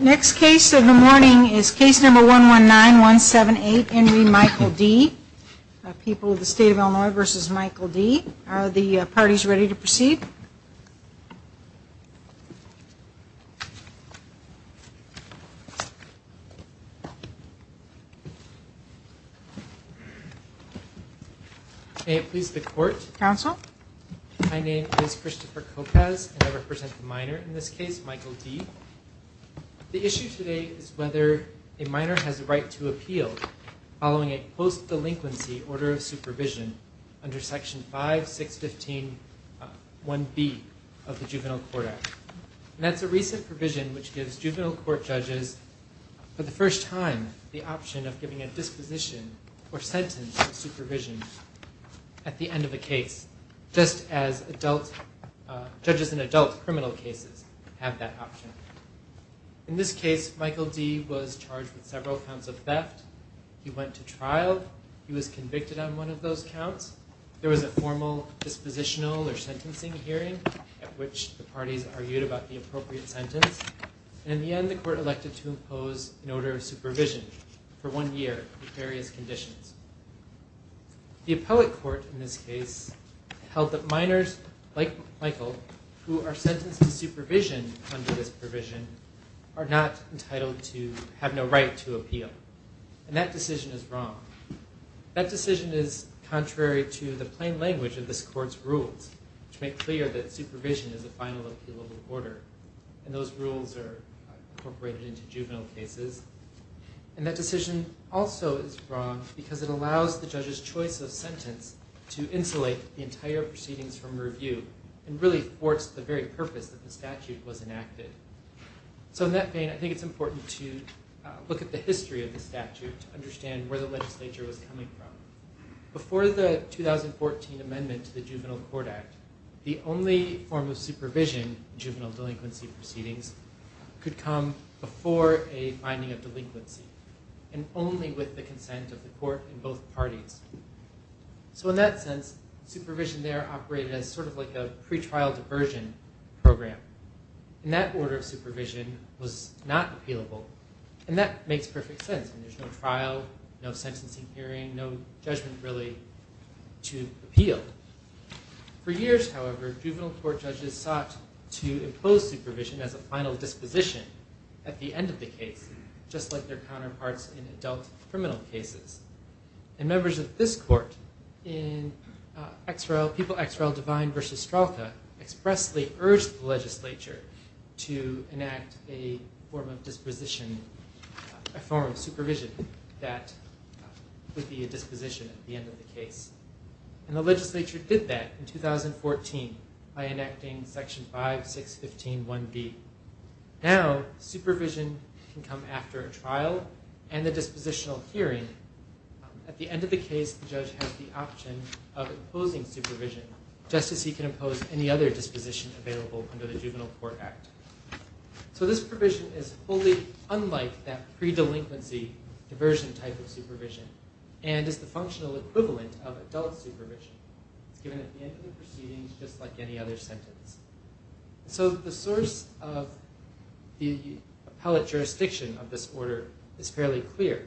Next case of the morning is case number one one nine one seven eight in the Michael D People of the state of Illinois versus Michael D. Are the parties ready to proceed? Hey, please the court counsel My name is Christopher Copas and I represent the minor in this case Michael D The issue today is whether a minor has a right to appeal Following a post delinquency order of supervision under section 5 6 15 1 B of the juvenile court act and that's a recent provision which gives juvenile court judges For the first time the option of giving a disposition or sentence supervision At the end of the case just as adult Judges and adult criminal cases have that option In this case Michael D was charged with several counts of theft. He went to trial He was convicted on one of those counts. There was a formal Dispositional or sentencing hearing at which the parties argued about the appropriate sentence And in the end the court elected to impose in order of supervision for one year various conditions The appellate court in this case held that minors like Michael who are sentenced to supervision under this provision are not Entitled to have no right to appeal and that decision is wrong That decision is contrary to the plain language of this courts rules Which make clear that supervision is a final appeal of the order and those rules are incorporated into juvenile cases And that decision also is wrong because it allows the judges choice of sentence to insulate the entire Proceedings from review and really thwarts the very purpose that the statute was enacted So in that vein, I think it's important to look at the history of the statute to understand where the legislature was coming from before the 2014 amendment to the juvenile court act the only form of supervision juvenile delinquency proceedings Could come before a finding of delinquency and only with the consent of the court in both parties So in that sense supervision there operated as sort of like a pretrial diversion program In that order of supervision was not appealable and that makes perfect sense and there's no trial no sentencing hearing no judgment really to appeal For years, however, juvenile court judges sought to impose supervision as a final disposition at the end of the case just like their counterparts in adult criminal cases and members of this court in XRL people XRL divine versus Strelka expressly urged the legislature to enact a form of disposition a form of supervision that Would be a disposition at the end of the case and the legislature did that in 2014 by enacting section 5 6 15 1 B Now supervision can come after a trial and the dispositional hearing At the end of the case the judge has the option of imposing supervision Just as he can impose any other disposition available under the juvenile court act So this provision is fully unlike that pre-delinquency Diversion type of supervision and is the functional equivalent of adult supervision Just like any other sentence so the source of The appellate jurisdiction of this order is fairly clear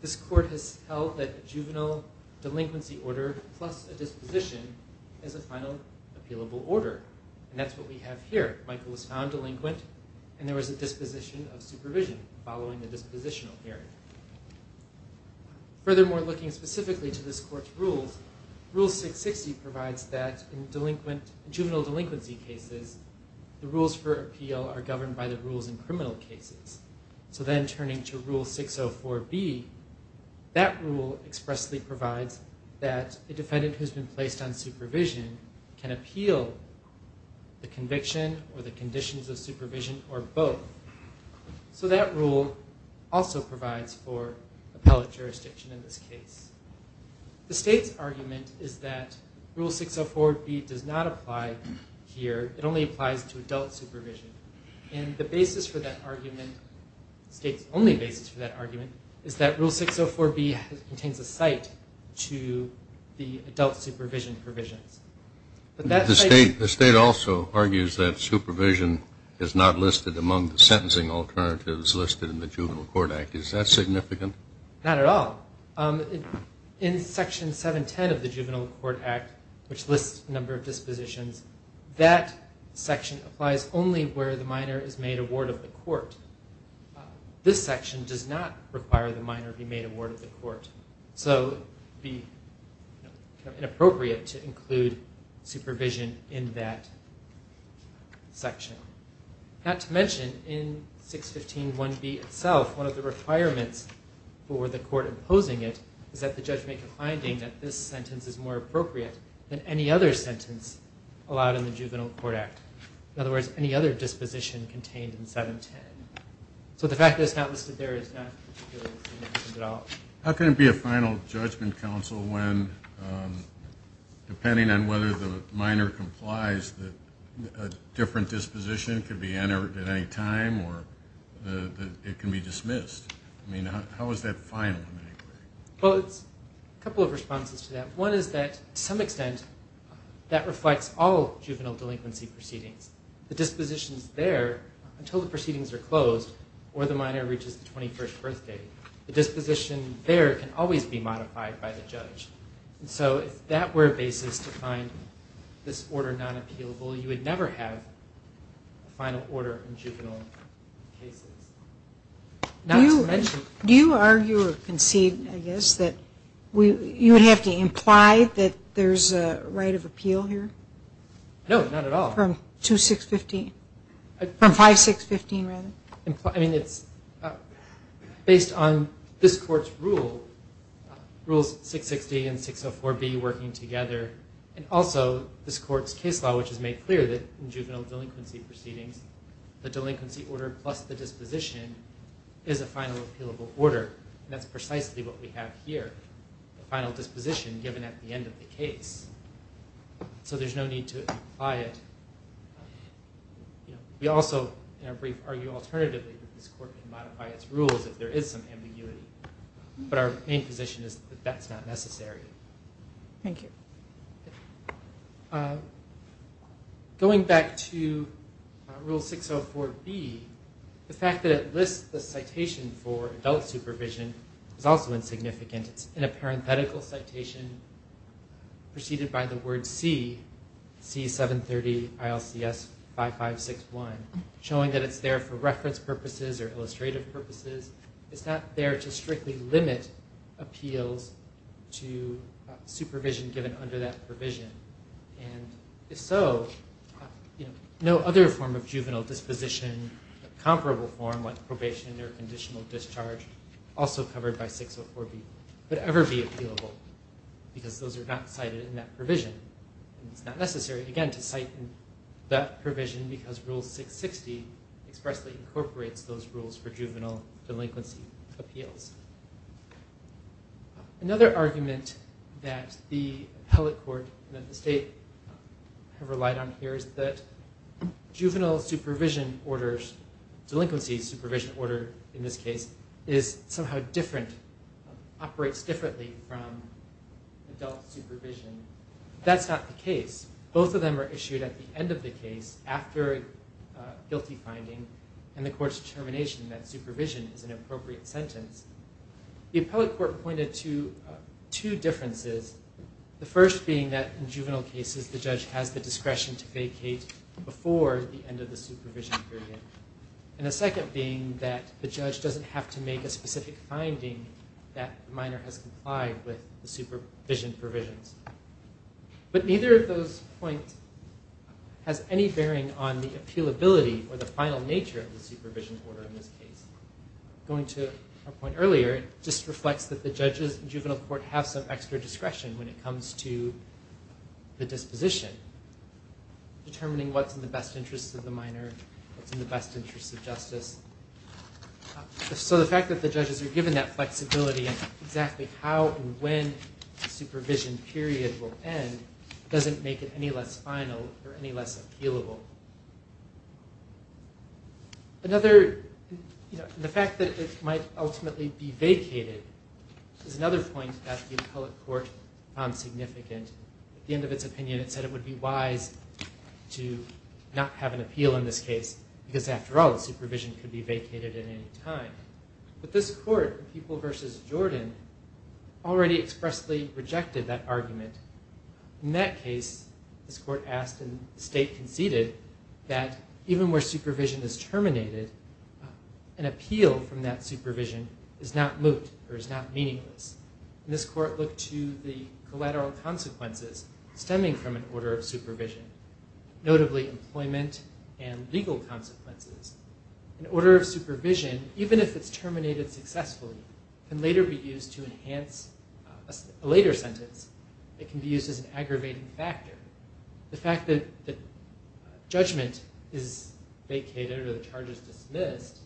This court has held that juvenile delinquency order plus a disposition as a final Appealable order and that's what we have here Michael was found delinquent and there was a disposition of supervision following the dispositional hearing Furthermore looking specifically to this court's rules Rule 660 provides that in delinquent juvenile delinquency cases The rules for appeal are governed by the rules in criminal cases. So then turning to rule 604 B That rule expressly provides that the defendant who's been placed on supervision can appeal the conviction or the conditions of supervision or both So that rule also provides for appellate jurisdiction in this case The state's argument is that rule 604 B does not apply here It only applies to adult supervision and the basis for that argument State's only basis for that argument is that rule 604 B contains a site to the adult supervision provisions But that's the state the state also argues that supervision is not listed among the sentencing Alternatives listed in the Juvenile Court Act. Is that significant? Not at all in section 710 of the Juvenile Court Act which lists number of dispositions that Section applies only where the minor is made a ward of the court This section does not require the minor be made a ward of the court. So be Inappropriate to include supervision in that Section not to mention in 615 1b itself one of the requirements for the court imposing it is that the judge make a finding that this sentence is more In other words any other disposition contained in 710, so the fact that it's not listed there is How can it be a final judgment counsel when Depending on whether the minor complies that a different disposition could be entered at any time or It can be dismissed. I mean, how is that final? Well, it's a couple of responses to that. One is that some extent That reflects all juvenile delinquency proceedings the dispositions there Until the proceedings are closed or the minor reaches the 21st birthday the disposition there can always be modified by the judge So if that were a basis to find this order non-appealable you would never have final order Do you argue or concede I guess that we you would have to imply that there's a right-of-appeal here No, not at all from to 615 from 5 6 15 rather I mean, it's based on this court's rule Rules 660 and 604 be working together and also this court's case law Which is made clear that in juvenile delinquency proceedings the delinquency order plus the disposition is a final appealable order That's precisely what we have here final disposition given at the end of the case So there's no need to apply it We also Rules if there is some ambiguity, but our main position is that's not necessary. Thank you Going back to Rule 604 be the fact that it lists the citation for adult supervision is also insignificant It's in a parenthetical citation Proceeded by the word C C 730 ILC s 5 5 6 1 showing that it's there for reference purposes or illustrative purposes. It's not there to strictly limit appeals to supervision given under that provision and if so No other form of juvenile disposition Comparable form like probation or conditional discharge also covered by 604 B, but ever be appealable Because those are not cited in that provision It's not necessary again to cite that provision because rule 660 Expressly incorporates those rules for juvenile delinquency appeals Another argument that the appellate court that the state relied on here is that juvenile supervision orders Delinquency supervision order in this case is somehow different operates differently from Adult supervision. That's not the case. Both of them are issued at the end of the case after Guilty finding and the court's determination that supervision is an appropriate sentence the appellate court pointed to two differences the first being that in juvenile cases the judge has the discretion to vacate before the end of the supervision period and The second being that the judge doesn't have to make a specific finding that minor has complied with the supervision provisions but neither of those points Has any bearing on the appeal ability or the final nature of the supervision order in this case? Going to a point earlier. It just reflects that the judges and juvenile court have some extra discretion when it comes to the disposition Determining what's in the best interest of the minor what's in the best interest of justice? So the fact that the judges are given that flexibility and exactly how and when Supervision period will end doesn't make it any less final or any less appealable Another The fact that it might ultimately be vacated Is another point that the appellate court? Significant the end of its opinion. It said it would be wise To not have an appeal in this case because after all the supervision could be vacated at any time But this court people versus Jordan Already expressly rejected that argument in that case this court asked and state conceded that even where supervision is terminated an Appeal from that supervision is not moot or is not meaningless This court looked to the collateral consequences stemming from an order of supervision notably employment and legal consequences An order of supervision even if it's terminated successfully and later be used to enhance a later sentence It can be used as an aggravating factor the fact that the Judgment is vacated or the charges dismissed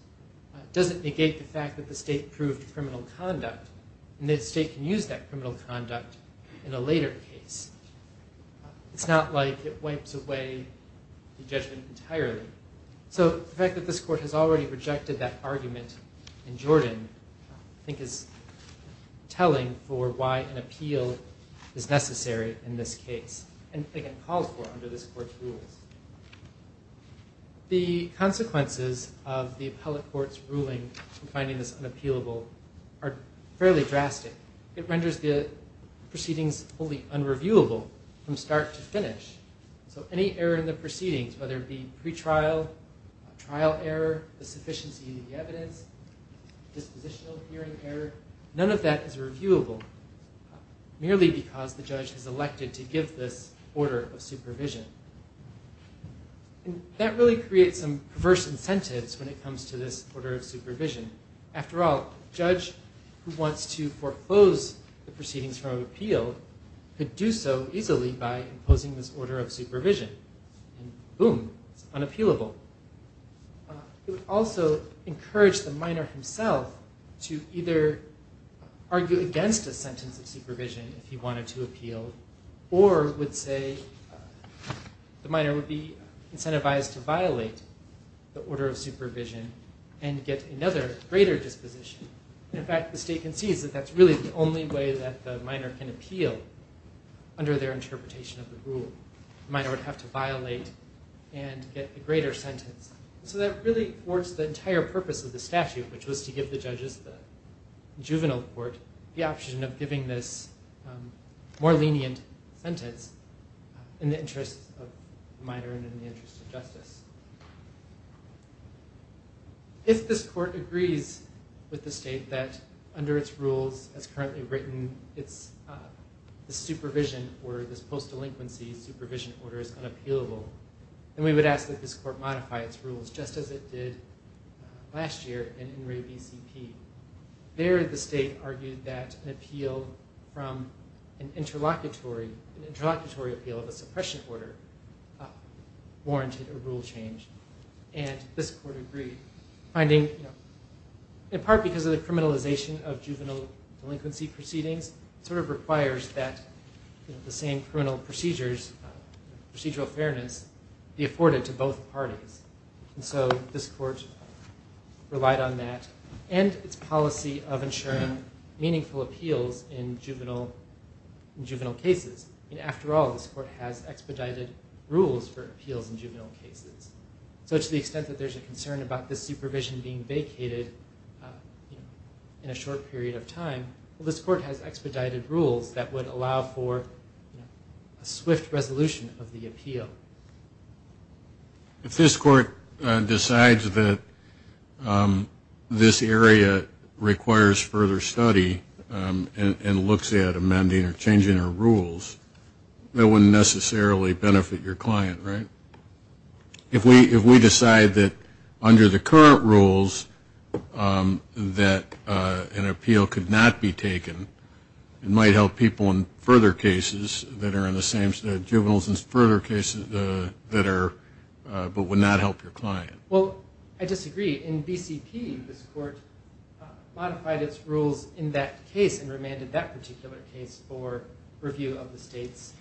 Doesn't negate the fact that the state proved criminal conduct and the state can use that criminal conduct in a later case It's not like it wipes away the judgment entirely so the fact that this court has already rejected that argument and Jordan I think is Telling for why an appeal is necessary in this case and again called for under this court rules The Consequences of the appellate courts ruling and finding this unappealable are fairly drastic it renders the Proceedings only unreviewable from start to finish so any error in the proceedings whether it be pretrial trial error the sufficiency of the evidence Dispositional hearing error none of that is reviewable Merely because the judge has elected to give this order of supervision That really creates some perverse incentives when it comes to this order of supervision After all judge who wants to foreclose the proceedings from appeal Could do so easily by imposing this order of supervision boom unappealable It would also encourage the minor himself to either argue against a sentence of supervision if he wanted to appeal or would say The minor would be Incentivized to violate the order of supervision and get another greater disposition In fact the state concedes that that's really the only way that the minor can appeal under their interpretation of the rule minor would have to violate and Get the greater sentence so that really works the entire purpose of the statute which was to give the judges the Juvenile court the option of giving this more lenient sentence In the interest of minor and in the interest of justice If this court agrees with the state that under its rules as currently written it's Supervision or this post delinquency supervision order is unappealable and we would ask that this court modify its rules just as it did last year in Ray BCP there the state argued that an appeal from an Interlocutory interlocutory appeal of a suppression order Warranted a rule change and this court agreed finding in part because of the criminalization of juvenile delinquency proceedings sort of requires that the same criminal procedures procedural fairness be afforded to both parties and so this court Relied on that and its policy of ensuring meaningful appeals in juvenile Juvenile cases and after all this court has expedited rules for appeals in juvenile cases So to the extent that there's a concern about this supervision being vacated In a short period of time. Well, this court has expedited rules that would allow for a swift resolution of the appeal If this court decides that This area requires further study And looks at amending or changing our rules That wouldn't necessarily benefit your client, right? If we if we decide that under the current rules That an appeal could not be taken It might help people in further cases that are in the same juveniles and further cases that are But would not help your client. Well, I disagree in BCP this court Modified its rules in that case and remanded that particular case for review of the state's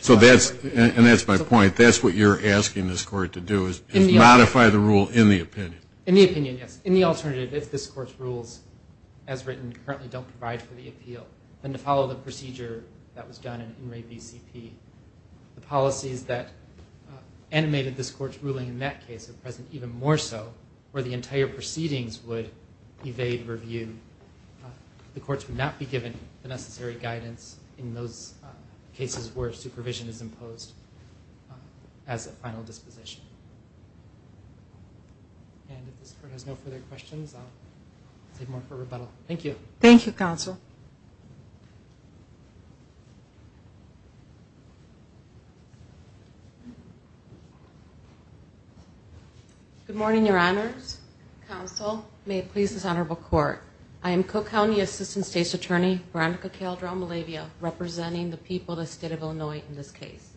So that's and that's my point That's what you're asking this court to do is modify the rule in the opinion in the opinion Yes in the alternative if this court's rules as written currently don't provide for the appeal and to follow the procedure That was done in rate BCP the policies that Animated this court's ruling in that case of present even more so where the entire proceedings would evade review The courts would not be given the necessary guidance in those cases where supervision is imposed as a final disposition And if this court has no further questions, I'll save more for rebuttal. Thank you. Thank you counsel Good Morning your honors Counsel may it please this honorable court. I am Cook County assistant state's attorney Veronica Caldwell, Malavia Representing the people the state of Illinois in this case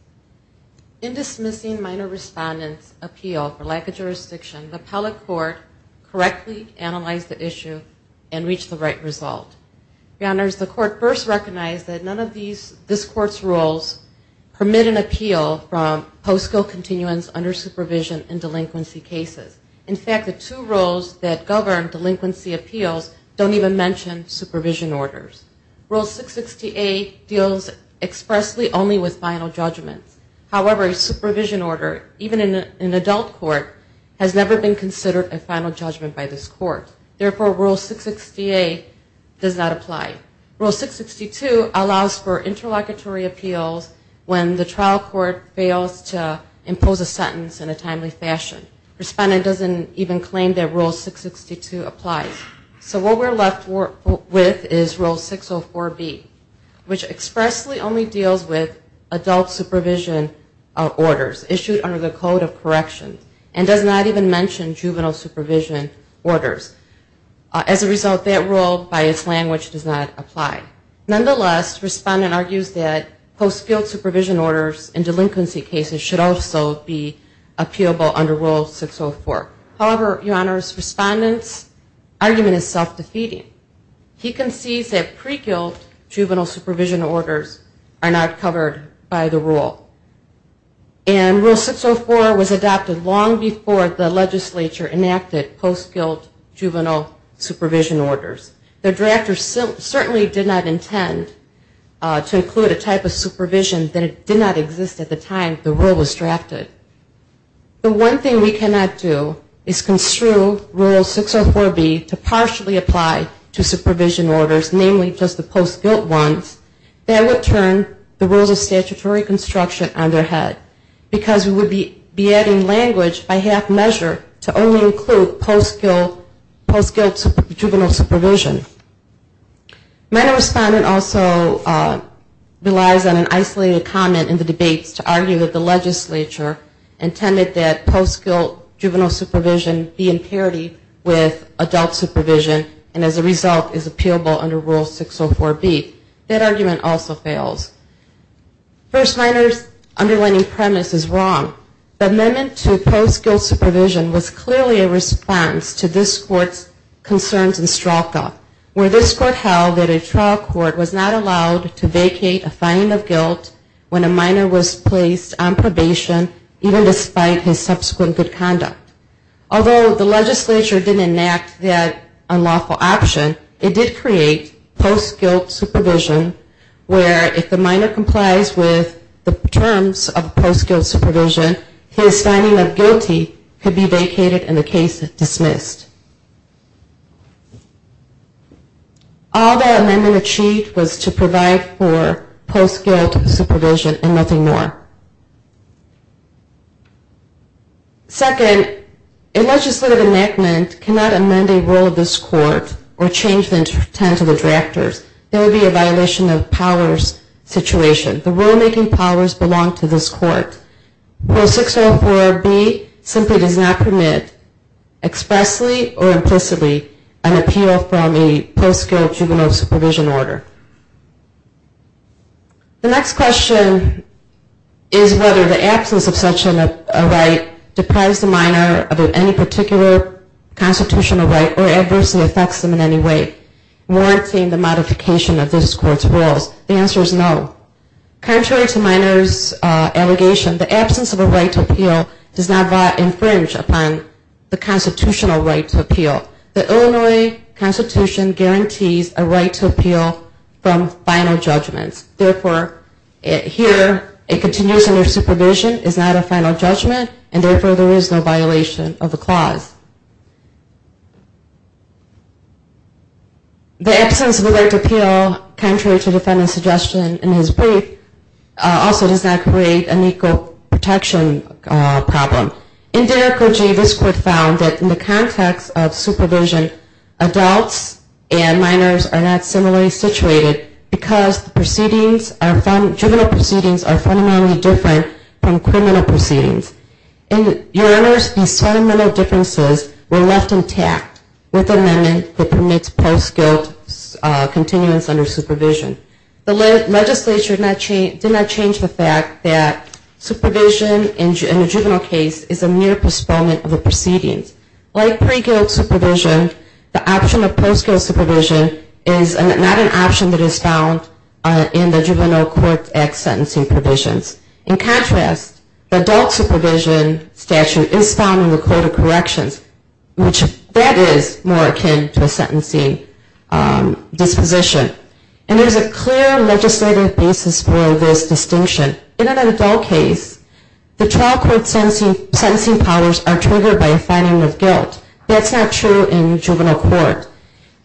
in dismissing minor respondents appeal for lack of jurisdiction the appellate court Correctly analyzed the issue and reached the right result Honors the court first recognized that none of these this court's rules Permit an appeal from post skill continuance under supervision and delinquency cases In fact the two rules that govern delinquency appeals don't even mention supervision orders rule 668 deals expressly only with final judgments However, a supervision order even in an adult court has never been considered a final judgment by this court Therefore rule 668 does not apply rule 662 allows for interlocutory appeals When the trial court fails to impose a sentence in a timely fashion Respondent doesn't even claim that rule 662 applies So what we're left with is rule 604 B Which expressly only deals with adult supervision? Orders issued under the code of corrections and does not even mention juvenile supervision orders As a result that rule by its language does not apply Nonetheless respondent argues that post guilt supervision orders and delinquency cases should also be Appealable under rule 604. However, your honor's respondents Argument is self-defeating. He concedes that pre-killed juvenile supervision orders are not covered by the rule and Rule 604 was adopted long before the legislature enacted post guilt juvenile Supervision orders their drafters certainly did not intend To include a type of supervision that it did not exist at the time. The rule was drafted The one thing we cannot do is construe rule 604 B to partially apply to supervision orders Namely just the post guilt ones that would turn the rules of statutory construction on their head Because we would be be adding language by half measure to only include post guilt post-guilt juvenile supervision minor respondent also relies on an isolated comment in the debates to argue that the legislature Intended that post guilt juvenile supervision be in parity with adult supervision And as a result is appealable under rule 604 B that argument also fails First minors underlining premise is wrong The amendment to post guilt supervision was clearly a response to this court's Concerns in Stralka where this court held that a trial court was not allowed to vacate a finding of guilt When a minor was placed on probation even despite his subsequent good conduct Although the legislature didn't enact that unlawful option It did create post guilt supervision Where if the minor complies with the terms of post guilt supervision His finding of guilty could be vacated and the case dismissed All that amendment achieved was to provide for post guilt supervision and nothing more Second a legislative enactment cannot amend a rule of this court or change the intent of the drafters There will be a violation of powers Situation the rulemaking powers belong to this court Rule 604 B simply does not permit Expressly or implicitly an appeal from a post guilt juvenile supervision order The next question is Whether the absence of such a right deprives the minor of any particular Constitutional right or adversely affects them in any way Warranting the modification of this court's rules. The answer is no contrary to minors Allegation the absence of a right to appeal does not infringe upon the constitutional right to appeal the Illinois Constitution guarantees a right to appeal from final judgments Therefore it here it continues under supervision is not a final judgment and therefore there is no violation of the clause The Absence of a right to appeal contrary to defendant's suggestion in his brief Also does not create an equal protection Problem in Derek OJ this court found that in the context of supervision Adults and minors are not similarly situated because the proceedings are from juvenile proceedings are fundamentally different from criminal proceedings and Your honors these fundamental differences were left intact with the amendment that permits post guilt Continuance under supervision the legislature did not change the fact that Supervision in a juvenile case is a mere postponement of the proceedings like pre-guilt supervision The option of post-guilt supervision is not an option that is found In the Juvenile Court Act sentencing provisions in contrast the adult supervision Statute is found in the Code of Corrections Which that is more akin to a sentencing Disposition and there's a clear legislative basis for this distinction in an adult case The trial court sentencing sentencing powers are triggered by a finding of guilt. That's not true in juvenile court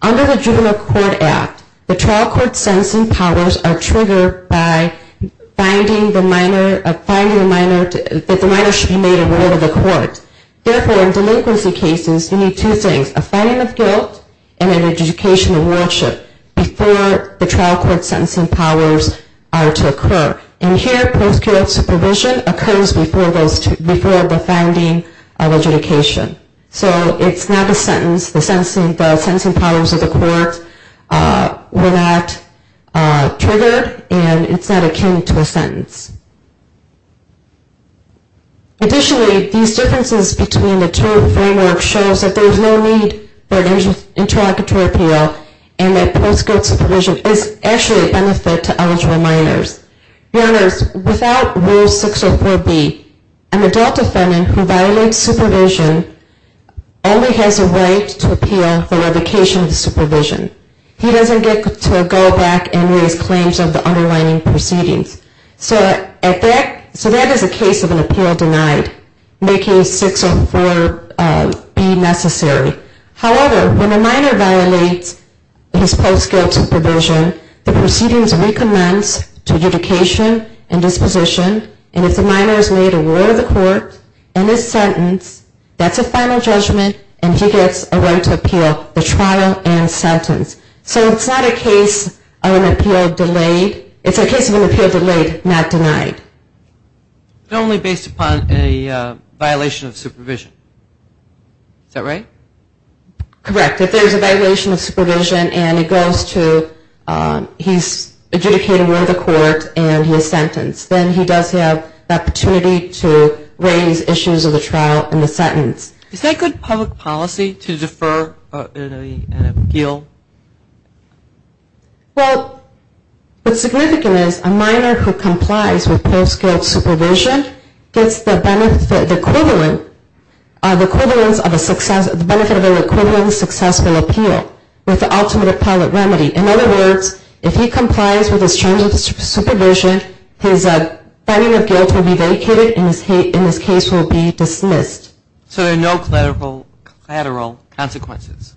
Under the Juvenile Court Act the trial court sentencing powers are triggered by Finding the minor of finding a minor that the minor should be made aware of the court Therefore in delinquency cases you need two things a finding of guilt and an education and worship Before the trial court sentencing powers are to occur and here post-guilt supervision occurs before the Finding of adjudication, so it's not a sentence the sentencing powers of the court were not Triggered and it's not akin to a sentence Additionally these differences between the two frameworks shows that there's no need for an interlocutory appeal and that post-guilt supervision Is actually a benefit to eligible minors. Your honors, without rule 604B An adult defendant who violates supervision Only has a right to appeal for revocation of the supervision He doesn't get to go back and raise claims of the underlining proceedings So that is a case of an appeal denied making 604B Necessary. However when a minor violates his post-guilt supervision the proceedings recommence to adjudication and Disposition and if the minor is made aware of the court and is sentenced That's a final judgment and he gets a right to appeal the trial and sentence So it's not a case of an appeal delayed. It's a case of an appeal delayed not denied only based upon a violation of supervision Is that right? correct if there's a violation of supervision and it goes to He's adjudicating with the court and he is sentenced then he does have the opportunity to Raise issues of the trial in the sentence. Is that good public policy to defer an appeal? Well What's significant is a minor who complies with post-guilt supervision gets the benefit, the equivalent of a successful appeal with the ultimate appellate remedy. In other words, if he complies with his terms of supervision His finding of guilt will be vacated and in this case will be dismissed. So there are no collateral consequences?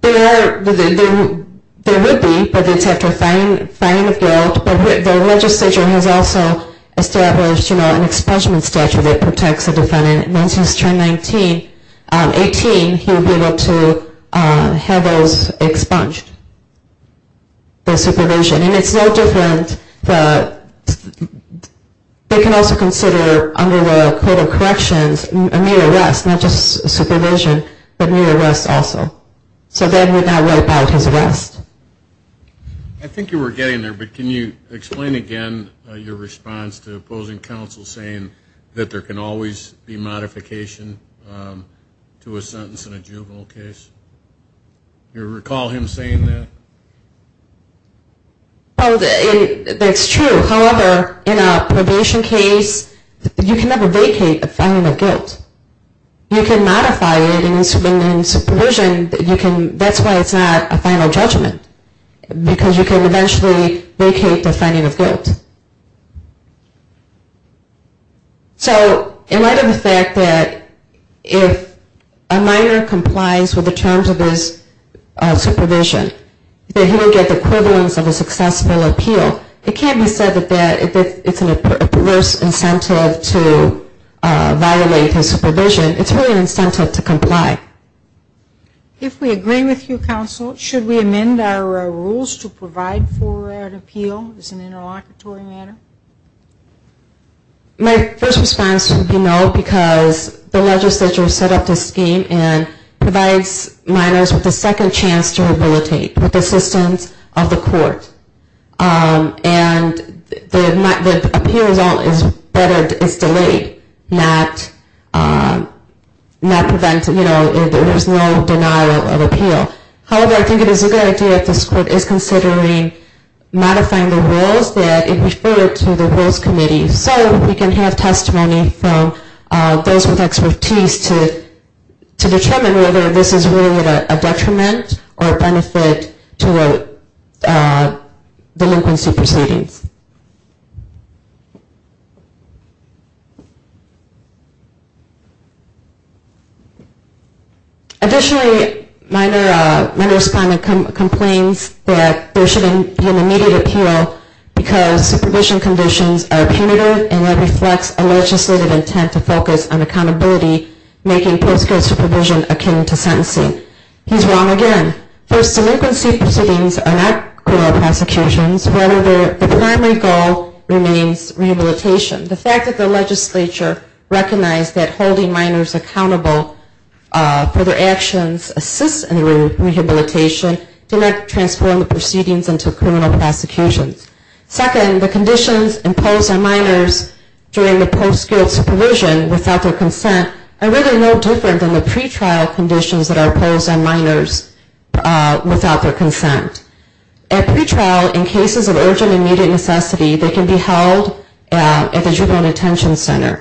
There would be but it's after finding of guilt But the legislature has also established an expungement statute that protects the defendant. Once he's turned 19 18 he'll be able to have those expunged The supervision and it's no different They can also consider under the Code of Corrections a mere arrest, not just supervision, but mere arrest also So then you're not right about his arrest. I think you were getting there, but can you explain again your response to opposing counsel saying that there can always be modification to a sentence in a juvenile case? You recall him saying that? That's true, however in a probation case you can never vacate a finding of guilt. You can modify it in supervision. That's why it's not a final judgment. Because you can eventually vacate the finding of guilt. So in light of the fact that if a minor complies with the terms of his supervision, then he will get the equivalence of a successful appeal. It can't be said that it's a perverse incentive to violate his supervision. It's really an incentive to comply. If we agree with you counsel, should we amend our rules to provide for an appeal as an interlocutory matter? My first response would be no, because the legislature set up this scheme and provides minors with a second chance to rehabilitate with the assistance of the court. And the appeal result is delayed. Not prevent, you know, there's no denial of appeal. However, I think it is a good idea if this court is considering modifying the rules that it referred to the Rules Committee so we can have testimony from those with expertise to to determine whether this is really a detriment or a benefit to a delinquency proceedings. Additionally, minor respondent complains that there shouldn't be an immediate appeal because supervision conditions are punitive and that reflects a legislative intent to focus on accountability, making post-court supervision akin to sentencing. He's wrong again. First, delinquency proceedings are not criminal prosecutions. However, the primary goal remains rehabilitation. The fact that the legislature has a preliminary procedure recognized that holding minors accountable for their actions assists in the rehabilitation did not transform the proceedings into criminal prosecutions. Second, the conditions imposed on minors during the post-court supervision without their consent are really no different than the pre-trial conditions that are imposed on minors without their consent. At pre-trial, in cases of urgent and immediate necessity, they can be held at the juvenile detention center.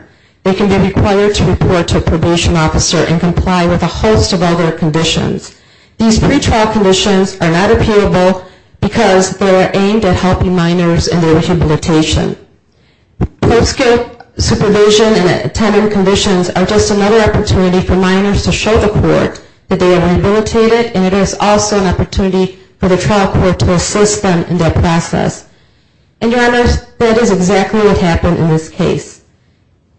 They can be required to report to a probation officer and comply with a host of other conditions. These pre-trial conditions are not appealable because they are aimed at helping minors in their rehabilitation. Post-court supervision and attendant conditions are just another opportunity for minors to show the court that they are rehabilitated and it is also an opportunity for the trial court to assist them in that process. And Your Honor, that is exactly what happened in this case.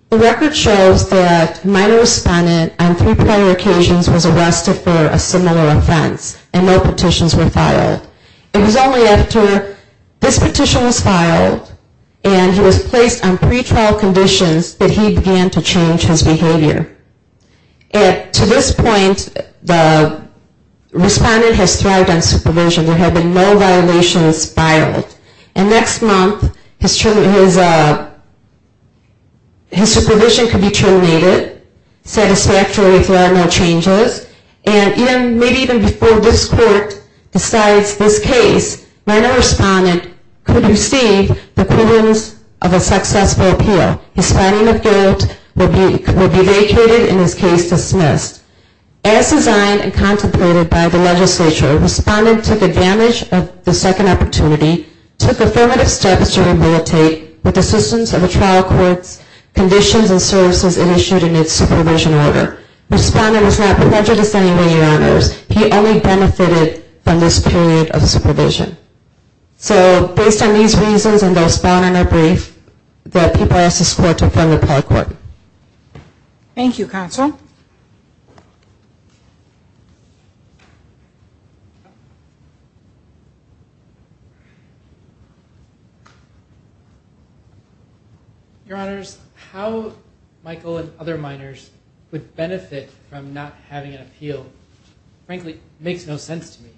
The record shows that a minor respondent on three prior occasions was arrested for a similar offense and no petitions were filed. It was only after this petition was filed and he was placed on pre-trial conditions that he began to change his behavior. To this point, the respondent has thrived on supervision. There have been no violations filed. And next month, his supervision could be terminated satisfactorily if there are no changes. And maybe even before this court decides this case, a minor respondent could receive the equivalence of a successful appeal. His finding of guilt would be vacated and his case dismissed. As designed and contemplated by the legislature, respondent took advantage of the second opportunity, took affirmative steps to rehabilitate with assistance of the trial court's conditions and services it issued in its supervision order. Respondent was not prejudiced in any way, Your Honors. He only benefited from this period of supervision. So, based on these reasons and those found in our brief, that people ask this court to affirm the Planned Court. Thank you, Counsel. Your Honors, how Michael and other minors would benefit from not having an appeal, frankly, makes no sense to me.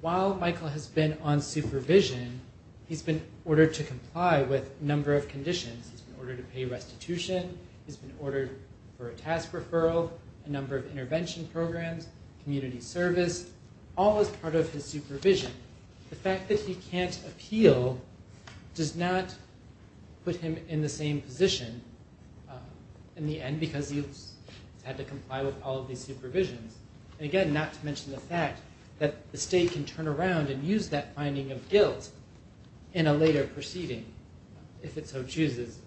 While Michael has been on supervision, he's been ordered to comply with a number of conditions. He's been ordered to pay restitution, he's been ordered for a task referral, a number of intervention programs, community service, all as part of his supervision. The fact that he can't appeal does not put him in the same position in the end because he's had to comply with all of these supervisions. And again, not to mention the fact that the state can turn around and use that finding of guilt in a later proceeding, if it so chooses,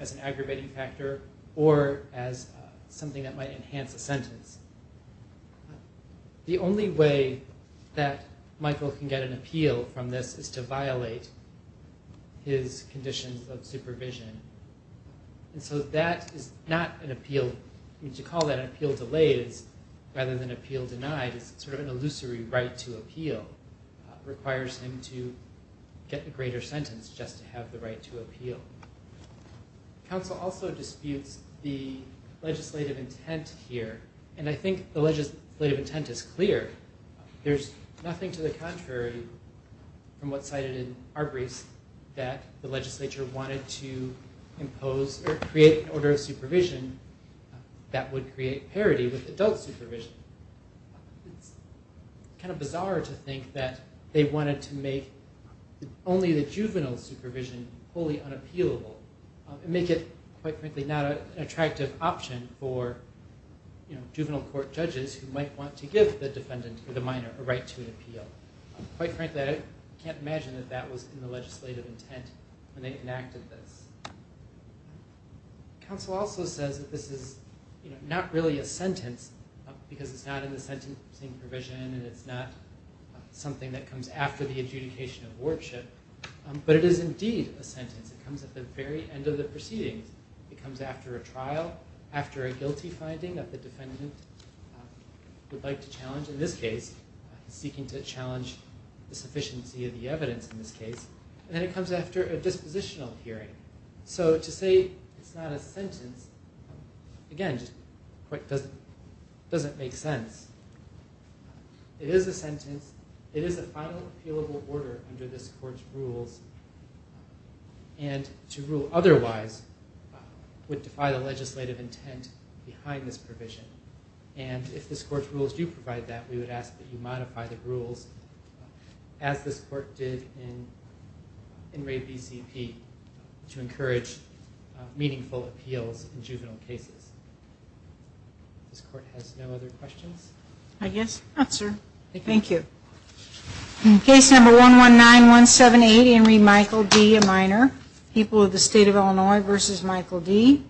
as an aggravating factor or as something that might enhance a sentence. The only way that Michael can get an appeal from this is to violate his conditions of supervision. And so that is not an appeal. To call that an appeal delayed rather than appeal denied is sort of an illusory right to appeal. It requires him to get a greater sentence just to have the right to appeal. Council also disputes the legislative intent here. And I think the legislative intent is clear. There's nothing to the contrary from what's cited in Arbery's that the legislature wanted to impose or create an order of supervision that would create parity with adult supervision. It's kind of bizarre to think that they wanted to make only the juvenile supervision wholly unappealable and make it, quite frankly, not an attractive option for juvenile court judges who might want to give the defendant or the minor a right to an appeal. Quite frankly, I can't imagine that that was in the legislative intent when they enacted this. Council also says that this is not really a sentence because it's not in the sentencing provision and it's not something that comes after the adjudication of wardship. But it is indeed a sentence. It comes at the very end of the proceedings. It comes after a trial, after a guilty finding that the defendant would like to challenge, in this case, seeking to challenge the sufficiency of the evidence in this case. And then it comes after a dispositional hearing. So to say it's not a sentence, again, just doesn't make sense. It is a sentence. It is a final appealable order under this court's rules. And to rule otherwise would defy the legislative intent behind this provision. And if this court's rules do provide that, we would ask that you modify the rules as this court did in RAID-BCP to encourage meaningful appeals in juvenile cases. This court has no other questions? I guess not, sir. Thank you. Case number 119178, Henry Michael D., a minor. People of the State of Illinois v. Michael D.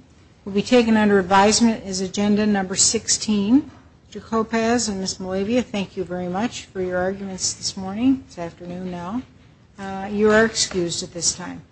Will be taken under advisement is agenda number 16. Mr. Kopacz and Ms. Malavia, thank you very much for your arguments this morning, this afternoon, now. You are excused at this time.